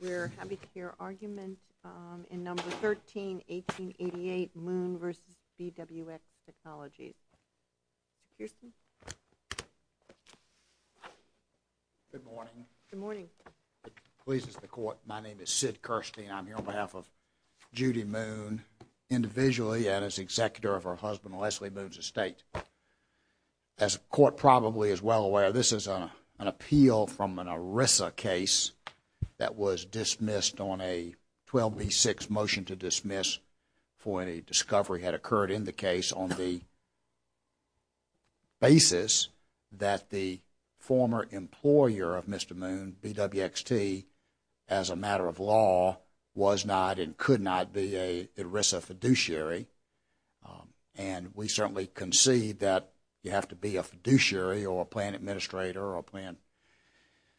We're happy to hear arguments in No. 13, 1888, Moon v. BWX Technologies. Good morning. My name is Sid Kirstein. I'm here on behalf of Judy Moon individually and as executor of her husband, Leslie Moon's estate. As the court probably is well aware, this is an appeal from an ERISA case that was dismissed on a 12B6 motion to dismiss for any discovery had occurred in the case on the basis that the former employer of Mr. Moon, BWXT, as a matter of law, was not and could not be an ERISA fiduciary. And we certainly concede that you have to be a fiduciary or a plan administrator or a plan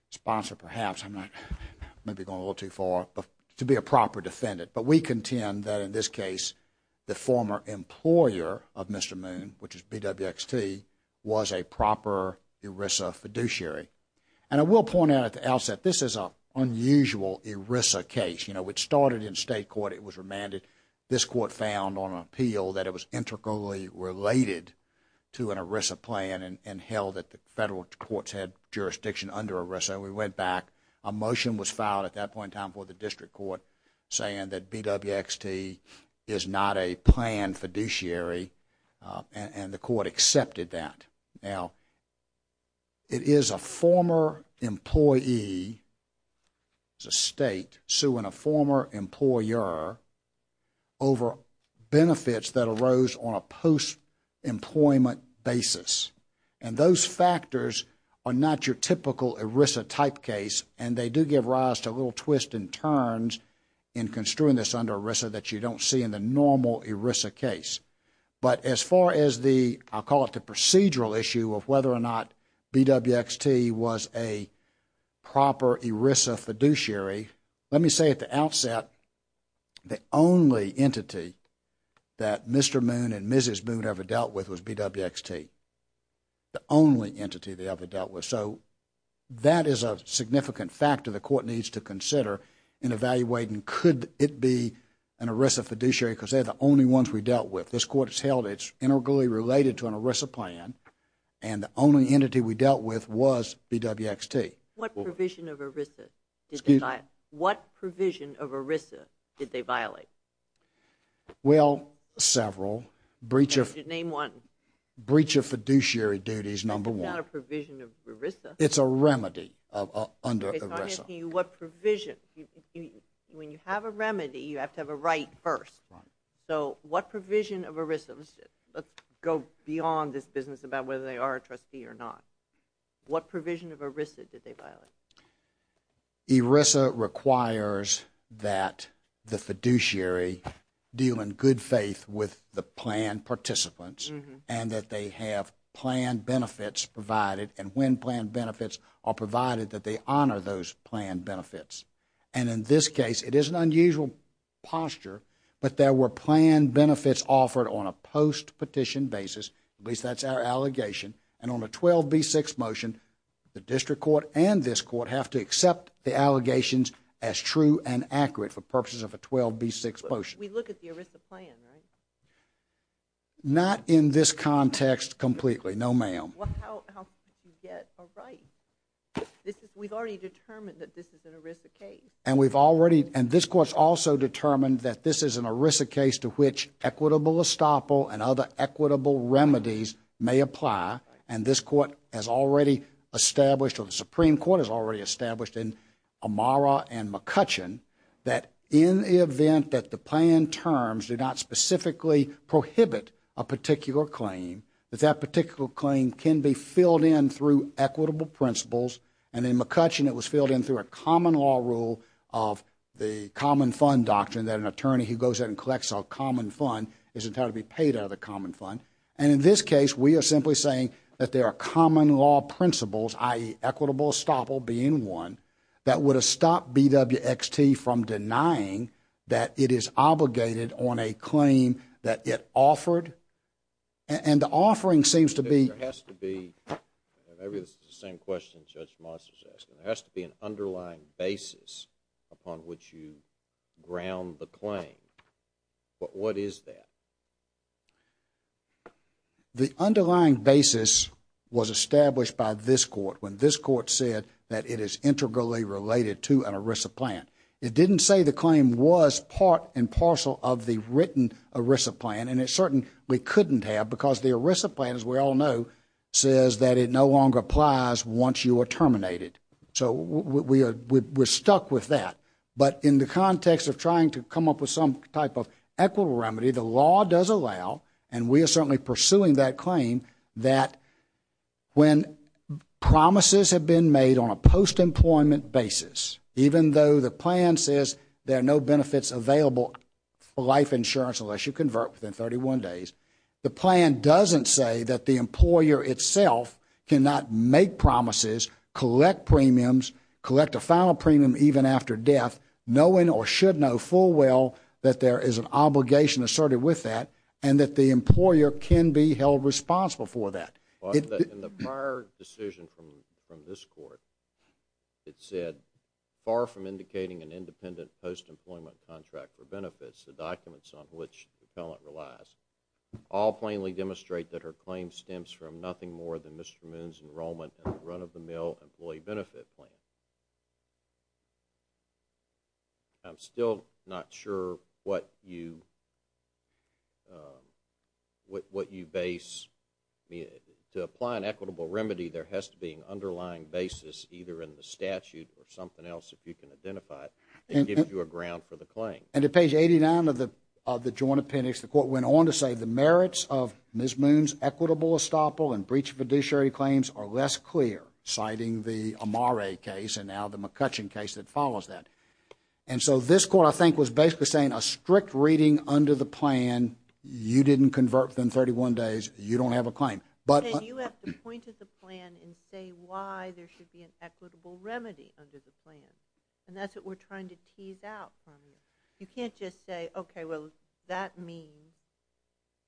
sponsor, perhaps. I'm maybe going a little too far, to be a proper defendant. But we contend that in this case the former employer of Mr. Moon, which is BWXT, was a proper ERISA fiduciary. And I will point out at the outset, this is an unusual ERISA case. You know, it started in state court. It was remanded. This court found on appeal that it was integrally related to an ERISA plan and held that the federal courts had jurisdiction under ERISA. We went back. A motion was filed at that point in time for the district court saying that BWXT is not a plan fiduciary. And the court accepted that. Now, it is a former employee as a state suing a former employer over benefits that arose on a post-employment basis. And those factors are not your typical ERISA type case. And they do give rise to a little twist and But as far as the, I'll call it the procedural issue of whether or not BWXT was a proper ERISA fiduciary, let me say at the outset, the only entity that Mr. Moon and Mrs. Moon ever dealt with was BWXT. The only entity they ever dealt with. So that is a significant factor the court needs to consider in evaluating could it be an ERISA fiduciary because they are the only ones we dealt with. This court has held it is integrally related to an ERISA plan and the only entity we dealt with was BWXT. What provision of ERISA did they violate? Well, several. Breach of fiduciary duties, number one. It's not a provision of ERISA. It's a remedy under ERISA. Okay, so I'm asking you what provision? When you have a remedy, you have to have a right first. So what provision of ERISA? Let's go beyond this business about whether they are a trustee or not. What provision of ERISA did they violate? ERISA requires that the fiduciary deal in good faith with the plan participants and that they have plan benefits provided and when plan benefits are provided that they posture, but there were plan benefits offered on a post-petition basis, at least that's our allegation, and on a 12B6 motion, the district court and this court have to accept the allegations as true and accurate for purposes of a 12B6 motion. We look at the ERISA plan, right? Not in this context completely, no ma'am. Well, how did you get a right? We've already This court's also determined that this is an ERISA case to which equitable estoppel and other equitable remedies may apply and this court has already established or the Supreme Court has already established in Amara and McCutcheon that in the event that the plan terms do not specifically prohibit a particular claim, that that particular claim can be filled in through equitable principles and in McCutcheon it was filled in through a common law rule of the common fund doctrine that an attorney who goes in and collects a common fund isn't going to be paid out of the common fund and in this case we are simply saying that there are common law principles, i.e., equitable estoppel being one, that would have stopped BWXT from denying that it is obligated on a claim that it offered and the offering seems to be There has to be an underlying basis upon which you ground the claim, but what is that? The underlying basis was established by this court when this court said that it is integrally related to an ERISA plan. It didn't say the claim was part and parcel of the written ERISA plan and it certainly couldn't have because the ERISA plan, as we all know, says that it no longer applies once you are terminated. So we are stuck with that, but in the context of trying to come up with some type of equitable remedy, the law does allow and we are certainly pursuing that claim that when promises have been made on a post-employment basis, even though the plan says there are no benefits available for life insurance unless you convert within 31 days, the plan doesn't say that the employer itself cannot make promises, collect premiums, collect a final premium even after death, knowing or should know full well that there is an obligation asserted with that and that the employer can be held responsible for that. In the prior decision from this court, it said, far from indicating an independent post-employment contract for benefits, the documents on which the talent relies, all plainly demonstrate that her claim stems from nothing more than Mr. Moon's enrollment in the run-of-the-mill employee benefit plan. I'm still not sure what you base the claim on. To apply an equitable remedy, there has to be an underlying basis either in the statute or something else if you can identify it that gives you a ground for the claim. And at page 89 of the joint appendix, the court went on to say the merits of Ms. Moon's equitable estoppel and breach of fiduciary claims are less clear, citing the Amare case and now the McCutcheon case that follows that. And so this court I think was basically saying a strict reading under the plan, you didn't convert within 31 days, you don't have a claim. Can you at the point of the plan and say why there should be an equitable remedy under the plan? And that's what we're trying to tease out from you. You can't just say, okay, well, that means,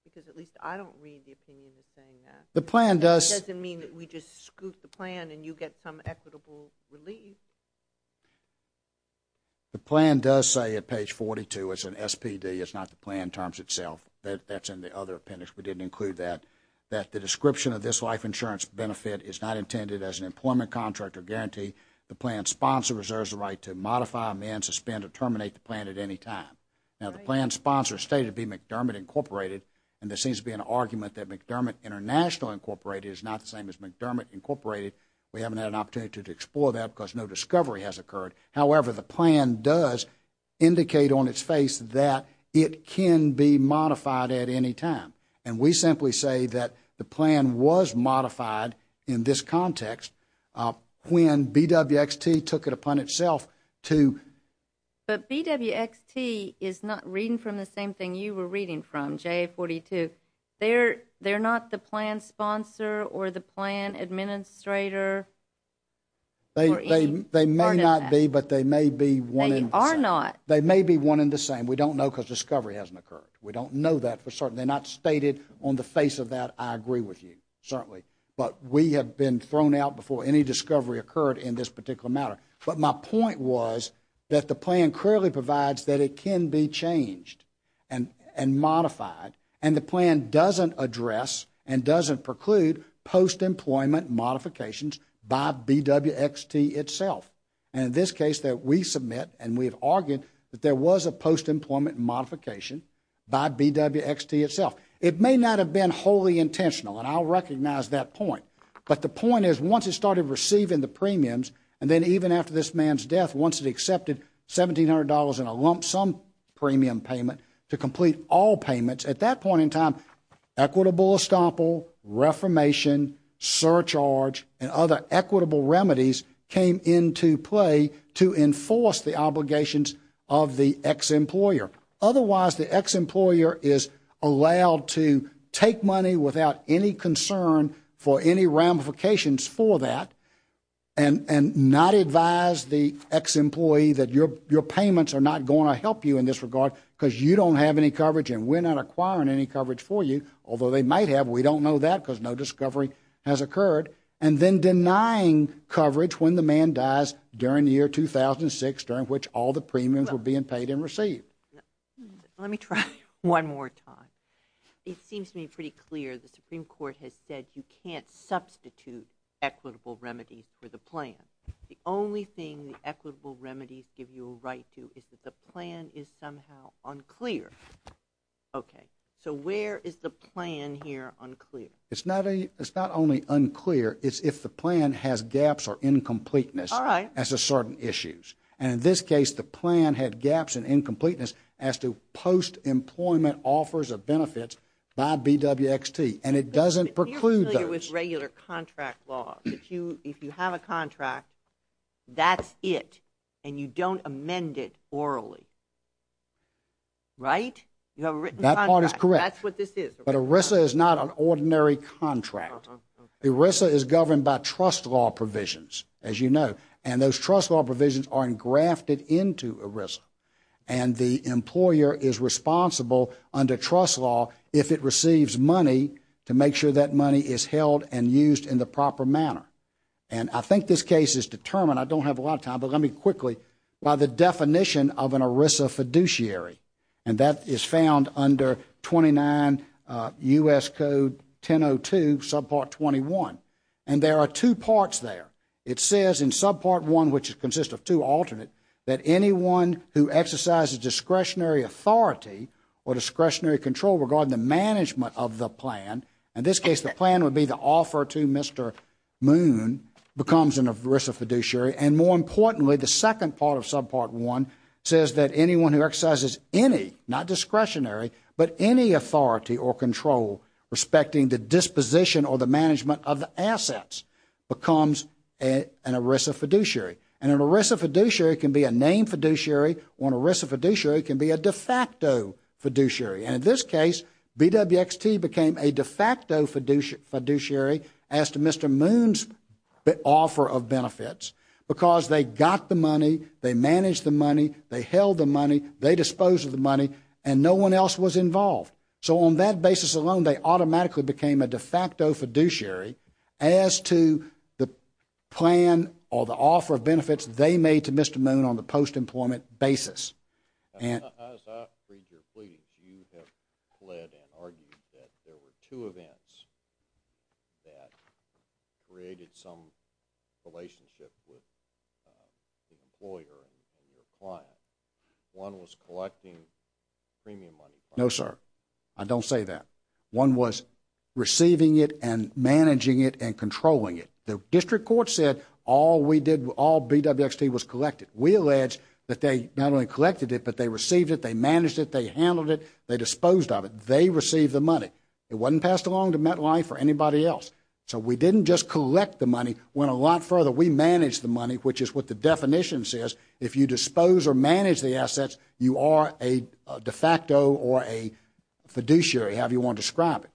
because at least I don't read the opinion as saying that. The plan does. It doesn't mean that we just scoot the plan and you get some equitable relief. The plan does say at page 42, it's an SPD, it's not the plan terms itself. That's in the other appendix. We didn't include that, that the description of this life insurance benefit is not intended as an employment contract or guarantee. The plan sponsor reserves the right to modify, amend, suspend or terminate the plan at any time. Now, the plan sponsor stated to be McDermott Incorporated, and there seems to be an argument that McDermott International Incorporated is not the same as McDermott Incorporated. We haven't had an opportunity to explore that because no discovery has occurred. However, the plan does indicate on its face that it can be modified at any time. And we simply say that the plan was modified in this context when BWXT took it upon itself to. But BWXT is not reading from the same thing you were reading from, JA42. They're not the plan sponsor or the plan administrator. They may not be, but they may be one in the same. They may be one in the same. We don't know because discovery hasn't occurred. We don't know that for certain. They're not stated on the face of that, I agree with you, certainly. But we have been thrown out before any discovery occurred in this particular matter. But my point was that the plan clearly provides that it can be changed and modified. And the plan doesn't address and doesn't preclude post-employment modifications by BWXT itself. And in this case that we submit and we have argued that there was a post-employment modification by BWXT itself. It may not have been wholly intentional and I'll recognize that point. But the point is once it started receiving the premiums and then even after this man's death, once it accepted $1,700 in a lump sum premium payment to complete all payments, at that point in time equitable estoppel, reformation, surcharge and other equitable remedies came into play to enforce the obligations of the ex-employer. Otherwise the ex-employer is allowed to take money without any concern for any ramifications for that and not advise the ex-employee that your payments are not going to help you in this regard because you don't have any coverage and we're not acquiring any coverage for you. Although they might have, we don't know that because no discovery has occurred. And then denying coverage when the man dies during the year 2006 during which all the premiums were being paid and received. Let me try one more time. It seems to me pretty clear the Supreme Court has said you can't substitute equitable remedies for the plan. The only thing the equitable remedies give you a right to is that the plan is somehow unclear. Okay. So where is the plan here unclear? It's not only unclear, it's if the plan has gaps or incompleteness. All right. As a certain issues. And in this case the plan had gaps and incompleteness as to post-employment offers of benefits by BWXT. And it doesn't preclude those. But if you're familiar with regular contract law, if you have a contract, that's it. And you don't amend it orally. Right? You have a written contract. That part is correct. That's what this is. But ERISA is not an ordinary contract. ERISA is governed by trust law provisions, as you know. And those trust law provisions are engrafted into ERISA. And the employer is responsible under trust law if it receives money to make sure that money is held and used in the proper manner. And I think this case is determined, I don't have a lot of time, but let me quickly, by the definition of an ERISA fiduciary. And that is found under 29 U.S. Code 1002, Subpart 21. And there are two parts there. It says in Subpart 1, which consists of two alternate, that anyone who exercises discretionary authority or discretionary control regarding the management of the plan, in this case the plan would be the offer to Mr. Moon, becomes an ERISA fiduciary. And more importantly, the second part of Subpart 1 says that anyone who exercises any, not discretionary, but any authority or control respecting the disposition or the management of the assets, becomes an ERISA fiduciary. And an ERISA fiduciary can be a named fiduciary, or an ERISA fiduciary can be a de facto fiduciary. And in this case, BWXT became a de facto fiduciary as to Mr. Moon's offer of benefits, because they got the money, they managed the money, they held the money, they disposed of the money, and no one else was involved. So on that basis alone, they automatically became a de facto fiduciary as to the plan or the offer of benefits they made to Mr. Moon on the post-employment basis. As I read your pleadings, you have pled and argued that there were two events that created some relationship with the employer and your client. One was collecting premium money from you. No, sir. I don't say that. One was receiving it and managing it and controlling it. The district court said all we did, all BWXT was collected. We allege that they not only collected it, but they received it, they managed it, they handled it, they disposed of it. They received the money. It wasn't passed along to MetLife or anybody else. So we didn't just collect the money, went a lot further. We managed the money, which is what the definition says. If you dispose or manage the assets, you are a de facto or a fiduciary, however you want to describe it.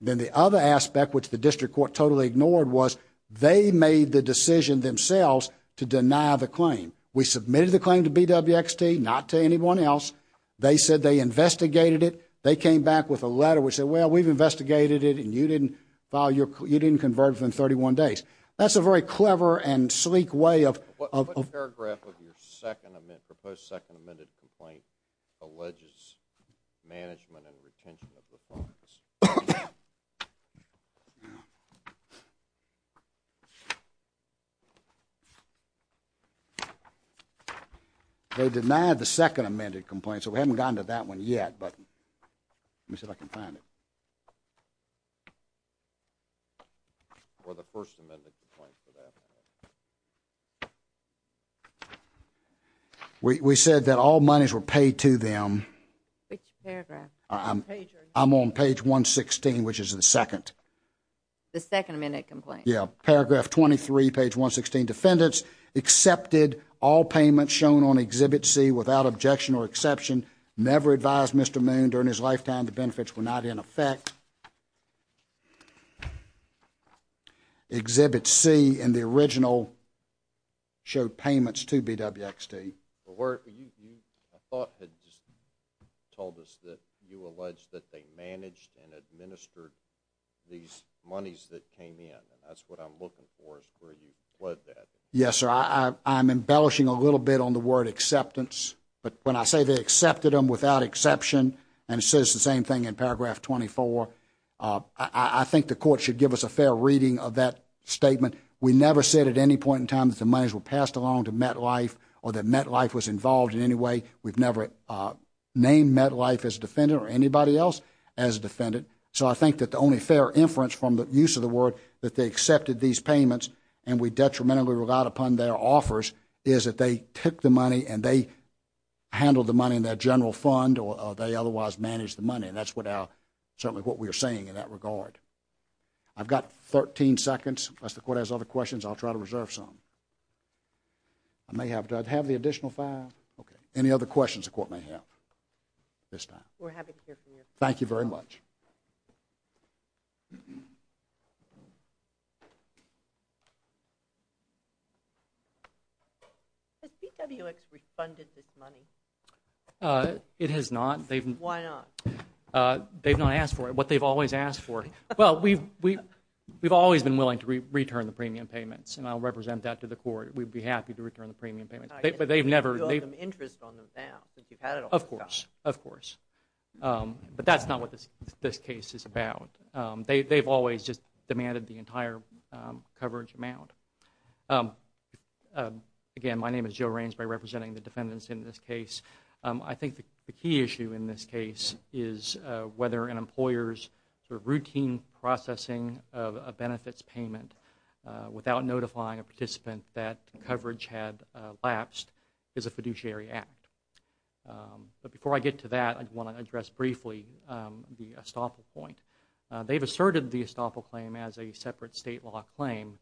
Then the other aspect, which the district court totally ignored, was they made the decision themselves to deny the claim. We submitted the claim to BWXT, not to anyone else. They said they investigated it. They came back with a letter which said, well, we've investigated it, and you didn't file your, you didn't convert it within 31 days. That's a very clever and sleek way of- The denial of your second amendment, proposed second amended complaint, alleges management and retention of the funds. They denied the second amended complaint, so we haven't gotten to that one yet, but let me see if I can find it. Or the first amended complaint for that matter. We said that all monies were paid to them. Which paragraph? I'm on page 116, which is the second. The second amended complaint? Yeah. Paragraph 23, page 116, defendants accepted all payments shown on Exhibit C without objection or exception, never advised Mr. Moon during his lifetime the benefits were not in effect. Exhibit C in the original showed payments to BWXT. You, you, I thought had just told us that you alleged that they managed and administered these monies that came in, and that's what I'm looking for, is where you put that. Yes, sir. I, I'm embellishing a little bit on the word acceptance, but when I say they accepted them without exception, and it says the same thing in paragraph 24, I, I think the court should give us a fair reading of that statement. We never said at any point in time that the monies were passed along to MetLife or that MetLife was involved in any way. We've never named MetLife as a defendant or anybody else as a defendant. So I think that the only fair inference from the use of the word that they accepted these payments and we detrimentally relied upon their offers is that they took the money and they handled the money in their general fund or they otherwise managed the money, and that's what our, certainly what we are saying in that regard. I've got 13 seconds. Unless the court has other questions, I'll try to reserve some. I may have to have the additional five. Okay. Any other questions the court may have at this time? We're happy to hear from you. Thank you very much. Has PWX refunded this money? It has not. Why not? They've not asked for it. What they've always asked for. Well, we've, we've always been willing to return the premium payments, and I'll represent that to the court. We'd be happy to return the premium payments, but they've never, they've, You owe them interest on them now. You've had it all this time. Of course. Of course. But that's not what this case is about. They've always just demanded the entire coverage amount. Again, my name is Joe Rainsbury, representing the defendants in this case. I think the key issue in this case is whether an employer's routine processing of a benefits payment without notifying a participant that coverage had lapsed is a fiduciary act. But before I get to that, I want to address briefly the estoppel point. They've asserted the estoppel claim as a separate state law claim.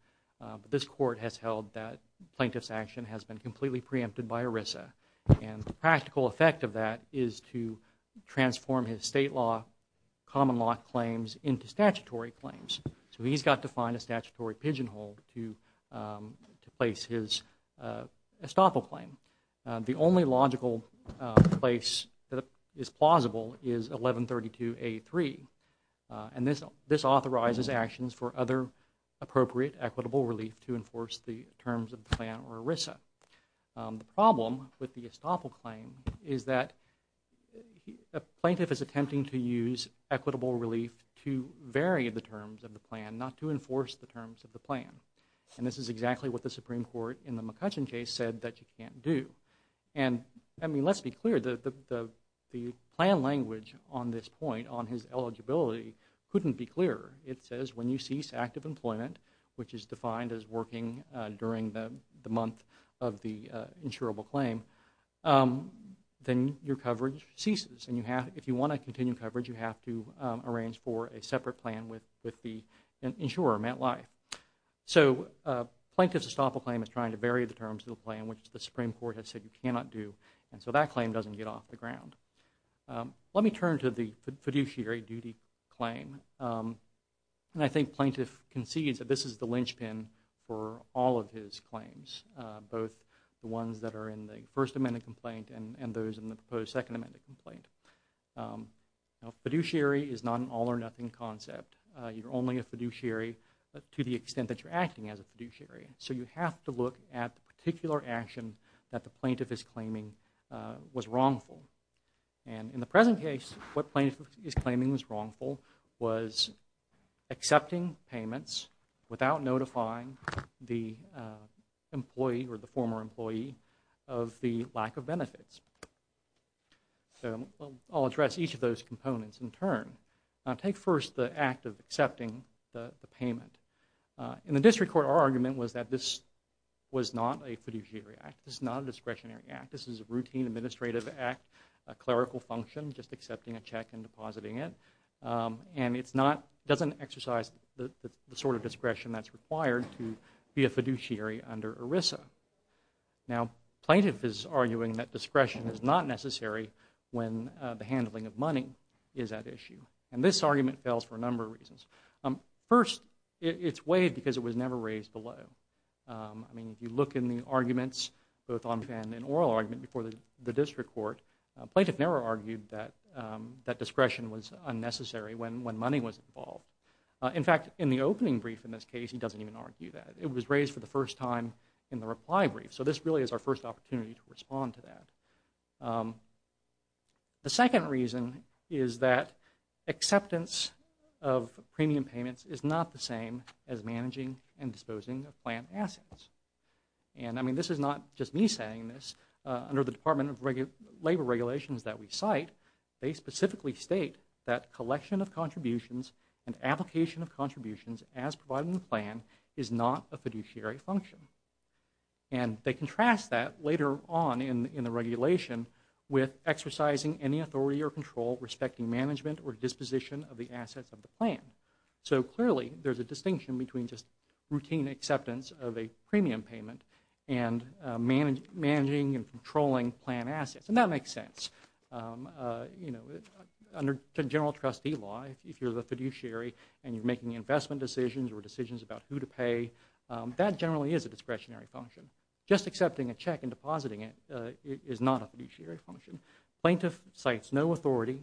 This court has held that plaintiff's action has been completely preempted by ERISA. And the practical effect of that is to transform his state law, common law claims into statutory claims. So he's got to find a statutory pigeonhole to, to place his estoppel claim. The only logical place that is plausible is 1132A3. And this, this authorizes actions for other appropriate equitable relief to enforce the terms of the plan or ERISA. The problem with the estoppel claim is that a plaintiff is attempting to use equitable relief to vary the terms of the plan, not to enforce the terms of the plan. And this is exactly what the Supreme Court in the McCutcheon case said that you can't do. And, I mean, let's be clear, the, the, the plan language on this point on his eligibility couldn't be clearer. It says when you cease active employment, which is defined as working during the, the month of the insurable claim, then your coverage ceases. And you have, if you want to continue coverage, you have to arrange for a separate plan with, with the insurer, MetLife. So plaintiff's estoppel claim is trying to vary the terms of the plan, which the Supreme Court has said you cannot do. And so that claim doesn't get off the ground. Let me turn to the fiduciary duty claim. And I think plaintiff concedes that this is the linchpin for all of his claims, both the ones that are in the First Amendment complaint and, and those in the proposed Second Amendment complaint. Now fiduciary is not an all or nothing concept. You're only a fiduciary to the extent that you're acting as a fiduciary. So you have to look at the particular action that the plaintiff is claiming was wrongful. And in the present case, what plaintiff is claiming was wrongful was accepting payments without notifying the employee or the former employee of the lack of benefits. So I'll address each of those components in turn. Now take first the act of accepting the payment. In the district court, our argument was that this was not a fiduciary act. This is not a discretionary act. This is a routine administrative act, a clerical function, just accepting a check and depositing it. And it's not, doesn't exercise the sort of discretion that's required to be a fiduciary under ERISA. Now plaintiff is arguing that discretion is not necessary when the handling of money is that issue. And this argument fails for a number of reasons. First, it's waived because it was never raised below. I mean, if you look in the arguments, both on and in oral argument before the district court, plaintiff never argued that discretion was unnecessary when money was involved. In fact, in the opening brief in this case, he doesn't even argue that. It was raised for the first time in the reply brief. So this really is our first opportunity to respond to that. The second reason is that acceptance of premium payments is not the same as managing and disposing of plant assets. And, I mean, this is not just me saying this. Under the Department of Labor regulations that we cite, they specifically state that collection of contributions and application of contributions as provided in the plan is not a fiduciary function. And they contrast that later on in the regulation with exercising any authority or control respecting management or disposition of the assets of the plan. So clearly, there's a distinction between just routine acceptance of a premium payment and managing and controlling plant assets. And that makes sense. You know, under general trustee law, if you're the fiduciary and you're making investment decisions or decisions about who to pay, that generally is a discretionary function. Just accepting a check and depositing it is not a fiduciary function. Plaintiff cites no authority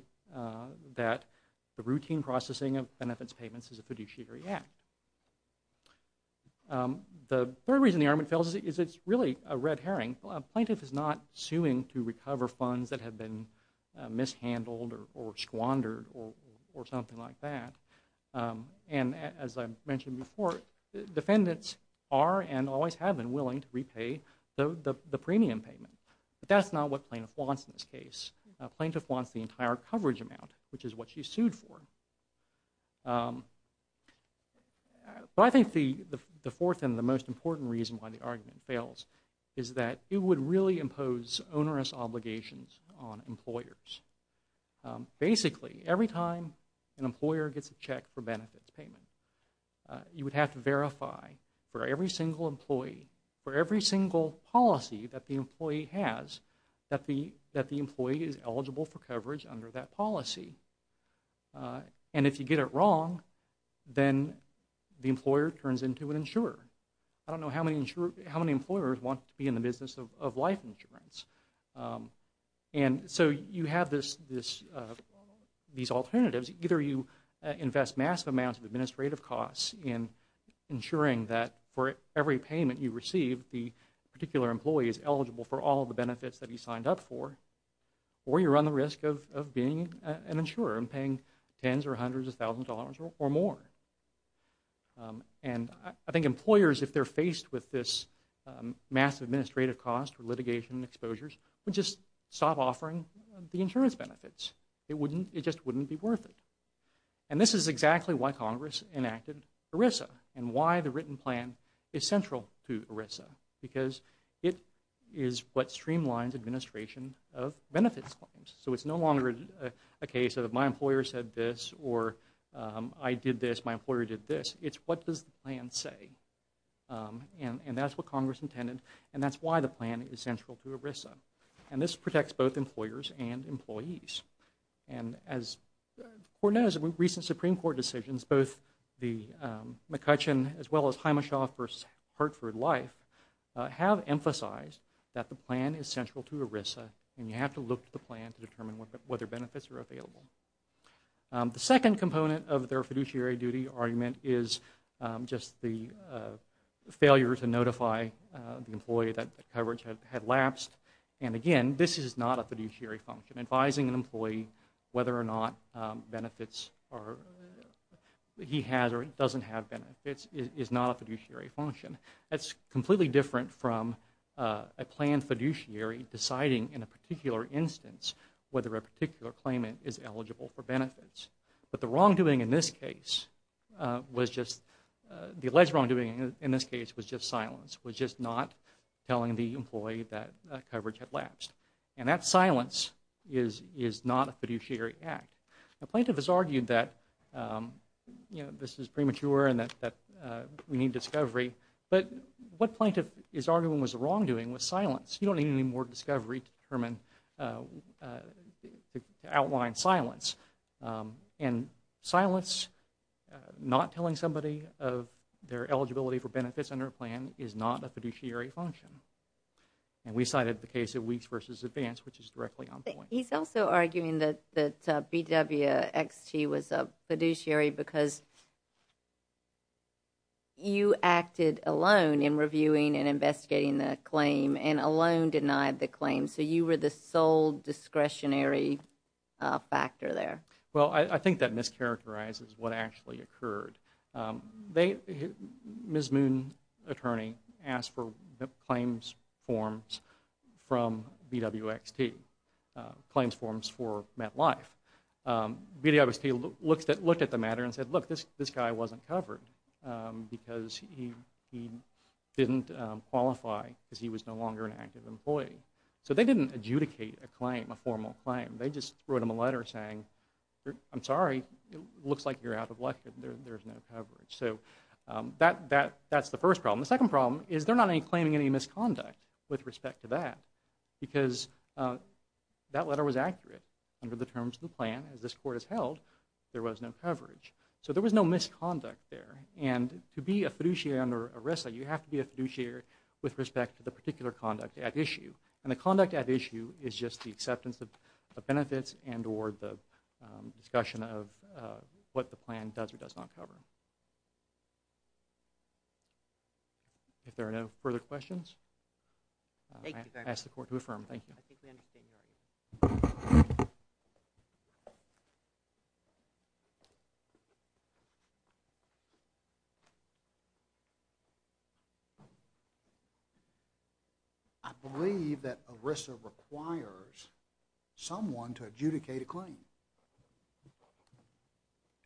that the routine processing of benefits payments is a fiduciary act. The third reason the argument fails is it's really a red herring. Plaintiff is not suing to recover funds that have been mishandled or squandered or something like that. And as I mentioned before, defendants are and always have been willing to repay the premium payment. But that's not what plaintiff wants in this case. Plaintiff wants the entire coverage amount, which is what she sued for. But I think the fourth and the most important reason why the argument fails is that it would really impose onerous obligations on employers. Basically, every time an employer gets a check for benefits payment, you would have to verify for every single employee, for every single policy that the employee has, that the employee is eligible for coverage under that policy. And if you get it wrong, then the employer turns into an insurer. I don't know how many employers want to be in the business of life insurance. And so you have this, these alternatives, either you invest massive amounts of administrative costs in ensuring that for every payment you receive, the particular employee is eligible for all the benefits that he signed up for, or you run the risk of being an insurer and paying tens or hundreds of thousands of dollars or more. And I think employers, if they're faced with this massive administrative cost for litigation and exposures, would just stop offering the insurance benefits. It wouldn't, it just wouldn't be worth it. And this is exactly why Congress enacted ERISA, and why the written plan is central to ERISA. Because it is what streamlines administration of benefits claims. So it's no longer a case of my employer said this, or I did this, my employer did this. It's what does the plan say? And that's what Congress intended, and that's why the plan is central to ERISA. And this protects both employers and employees. And as the Court knows, in recent Supreme Court decisions, both the McCutcheon as well as Hymashaw v. Hartford Life have emphasized that the plan is central to ERISA, and you have to look at the plan to determine whether benefits are available. The second component of their fiduciary duty argument is just the failure to notify the employee that the coverage had lapsed. And again, this is not a fiduciary function. Advising an employee whether or not benefits are, he has or doesn't have benefits is not a fiduciary function. That's completely different from a planned fiduciary deciding in a particular instance whether a particular claimant is eligible for benefits. But the wrongdoing in this case was just, the alleged wrongdoing in this case was just silence, was just not telling the employee that coverage had lapsed. And that silence is not a fiduciary act. A plaintiff has argued that this is premature and that we need discovery, but what plaintiff is arguing was the wrongdoing was silence. You don't need any more discovery to determine, to outline silence. And silence, not telling somebody of their eligibility for benefits under a plan is not a fiduciary function. And we cited the case of Weeks v. Advance, which is directly on point. He's also arguing that BWXT was a fiduciary because you acted alone in reviewing and investigating the claim and alone denied the claim. So you were the sole discretionary factor there. Well I think that mischaracterizes what actually occurred. Ms. Moon, attorney, asked for claims forms from BWXT, claims forms for MetLife. BWXT looked at the matter and said, look, this guy wasn't covered because he didn't qualify because he was no longer an active employee. So they didn't adjudicate a claim, a formal claim. They just wrote him a letter saying, I'm sorry, it looks like you're out of luck, there's no coverage. So that's the first problem. The second problem is they're not claiming any misconduct with respect to that because that letter was accurate under the terms of the plan as this court has held, there was no coverage. So there was no misconduct there. And to be a fiduciary under ERISA, you have to be a fiduciary with respect to the particular conduct at issue. And the conduct at issue is just the acceptance of benefits and or the discussion of what the plan does or does not cover. If there are no further questions, I ask the court to affirm. I believe that ERISA requires someone to adjudicate a claim.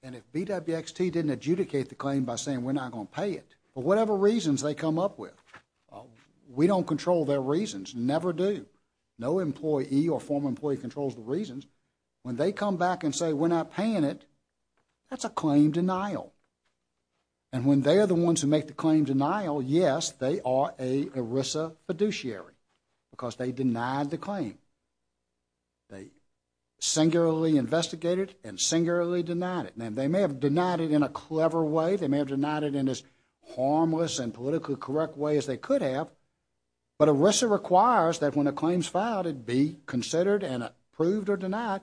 And if BWXT didn't adjudicate the claim by saying we're not going to pay it for whatever reasons they come up with, we don't control their reasons, never do. No employee or former employee controls the reasons. When they come back and say we're not paying it, that's a claim denial. And when they are the ones who make the claim denial, yes, they are a ERISA fiduciary because they denied the claim. They singularly investigated and singularly denied it. Now, they may have denied it in a clever way, they may have denied it in as harmless and politically correct way as they could have. But ERISA requires that when a claim is filed, it be considered and approved or denied.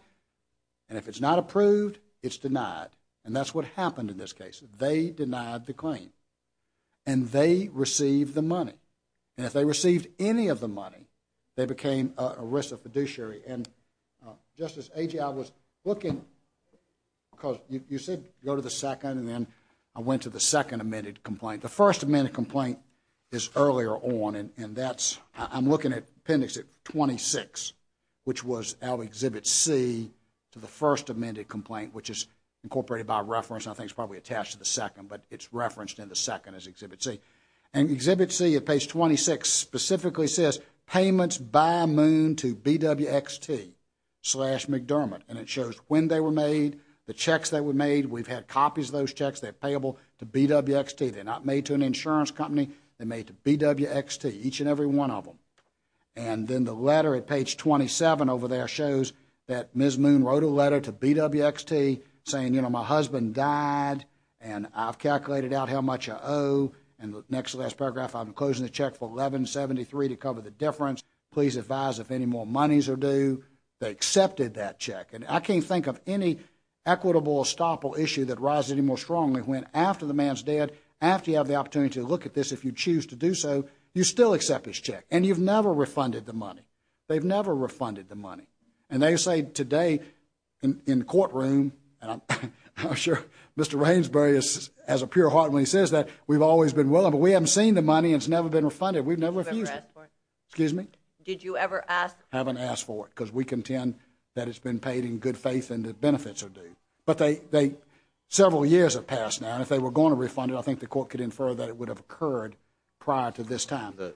And if it's not approved, it's denied. And that's what happened in this case. They denied the claim. And they received the money. And if they received any of the money, they became a ERISA fiduciary. And Justice Agee, I was looking because you said go to the second and then I went to the second amended complaint. The first amended complaint is earlier on and that's, I'm looking at appendix 26, which was out of Exhibit C to the first amended complaint, which is incorporated by reference and I think it's probably attached to the second, but it's referenced in the second as Exhibit C. And Exhibit C at page 26 specifically says payments by moon to BWXT slash McDermott. And it shows when they were made, the checks that were made. We've had copies of those checks, they're payable to BWXT. They're not made to an insurance company. They made to BWXT, each and every one of them. And then the letter at page 27 over there shows that Ms. Moon wrote a letter to BWXT saying my husband died and I've calculated out how much I owe. And the next to last paragraph, I'm closing the check for 1173 to cover the difference. Please advise if any more monies are due. They accepted that check. And I can't think of any equitable estoppel issue that rises any more strongly when after the man's dead, after you have the opportunity to look at this, if you choose to do so, you still accept his check and you've never refunded the money. They've never refunded the money. And they say today in courtroom, and I'm sure Mr. Rainsbury has a pure heart when he says that we've always been willing, but we haven't seen the money and it's never been refunded. We've never refused it. Have you ever asked for it? Excuse me? Did you ever ask for it? Haven't asked for it. Because we contend that it's been paid in good faith and the benefits are due. But they, they, several years have passed now and if they were going to refund it, I think the court could infer that it would have occurred prior to this time. The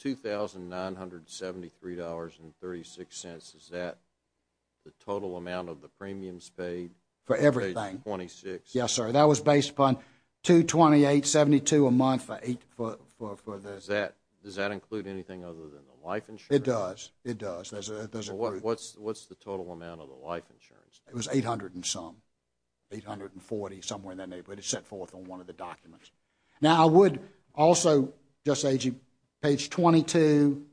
$2,973.36, is that the total amount of the premiums paid? For everything. For page 26? Yes, sir. That was based upon $228.72 a month for eight, for, for, for this. Does that, does that include anything other than the life insurance? It does. It does. It does include. What's, what's the total amount of the life insurance? It was 800 and some. 840, somewhere in that neighborhood. It's set forth on one of the documents. Now I would also just say to you, page 22,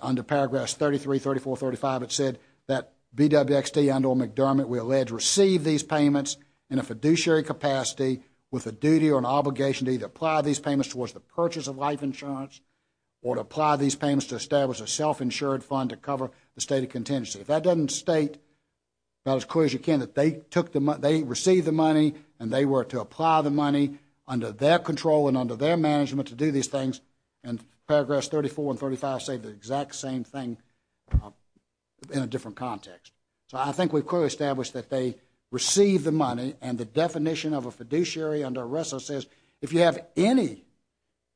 under paragraph 33, 34, 35, it said that BWXT and or McDermott, we allege, receive these payments in a fiduciary capacity with a duty or an obligation to either apply these payments towards the purchase of life insurance or to apply these payments to establish a self-insured fund to cover the state of contingency. If that doesn't state, about as clear as you can, that they took the money, they received the money and they were to apply the money under their control and under their management to do these things, and paragraphs 34 and 35 say the exact same thing in a different context. So I think we've clearly established that they receive the money and the definition of a fiduciary under RESSA says if you have any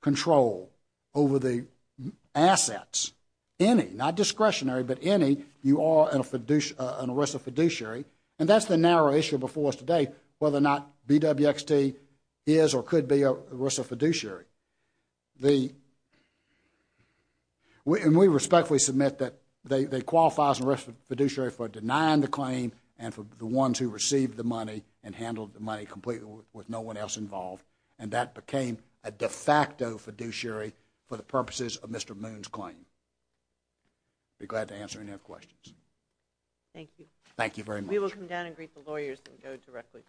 control over the assets, any, not discretionary but any, you are in a RESSA fiduciary and that's the narrow issue before us today, whether or not BWXT is or could be a RESSA fiduciary. We respectfully submit that they qualify as a RESSA fiduciary for denying the claim and for the ones who received the money and handled the money completely with no one else involved and that became a de facto fiduciary for the purposes of Mr. Moon's claim. I'd be glad to answer any questions. Thank you. Thank you very much. We will come down and greet the lawyers and go directly to the last one.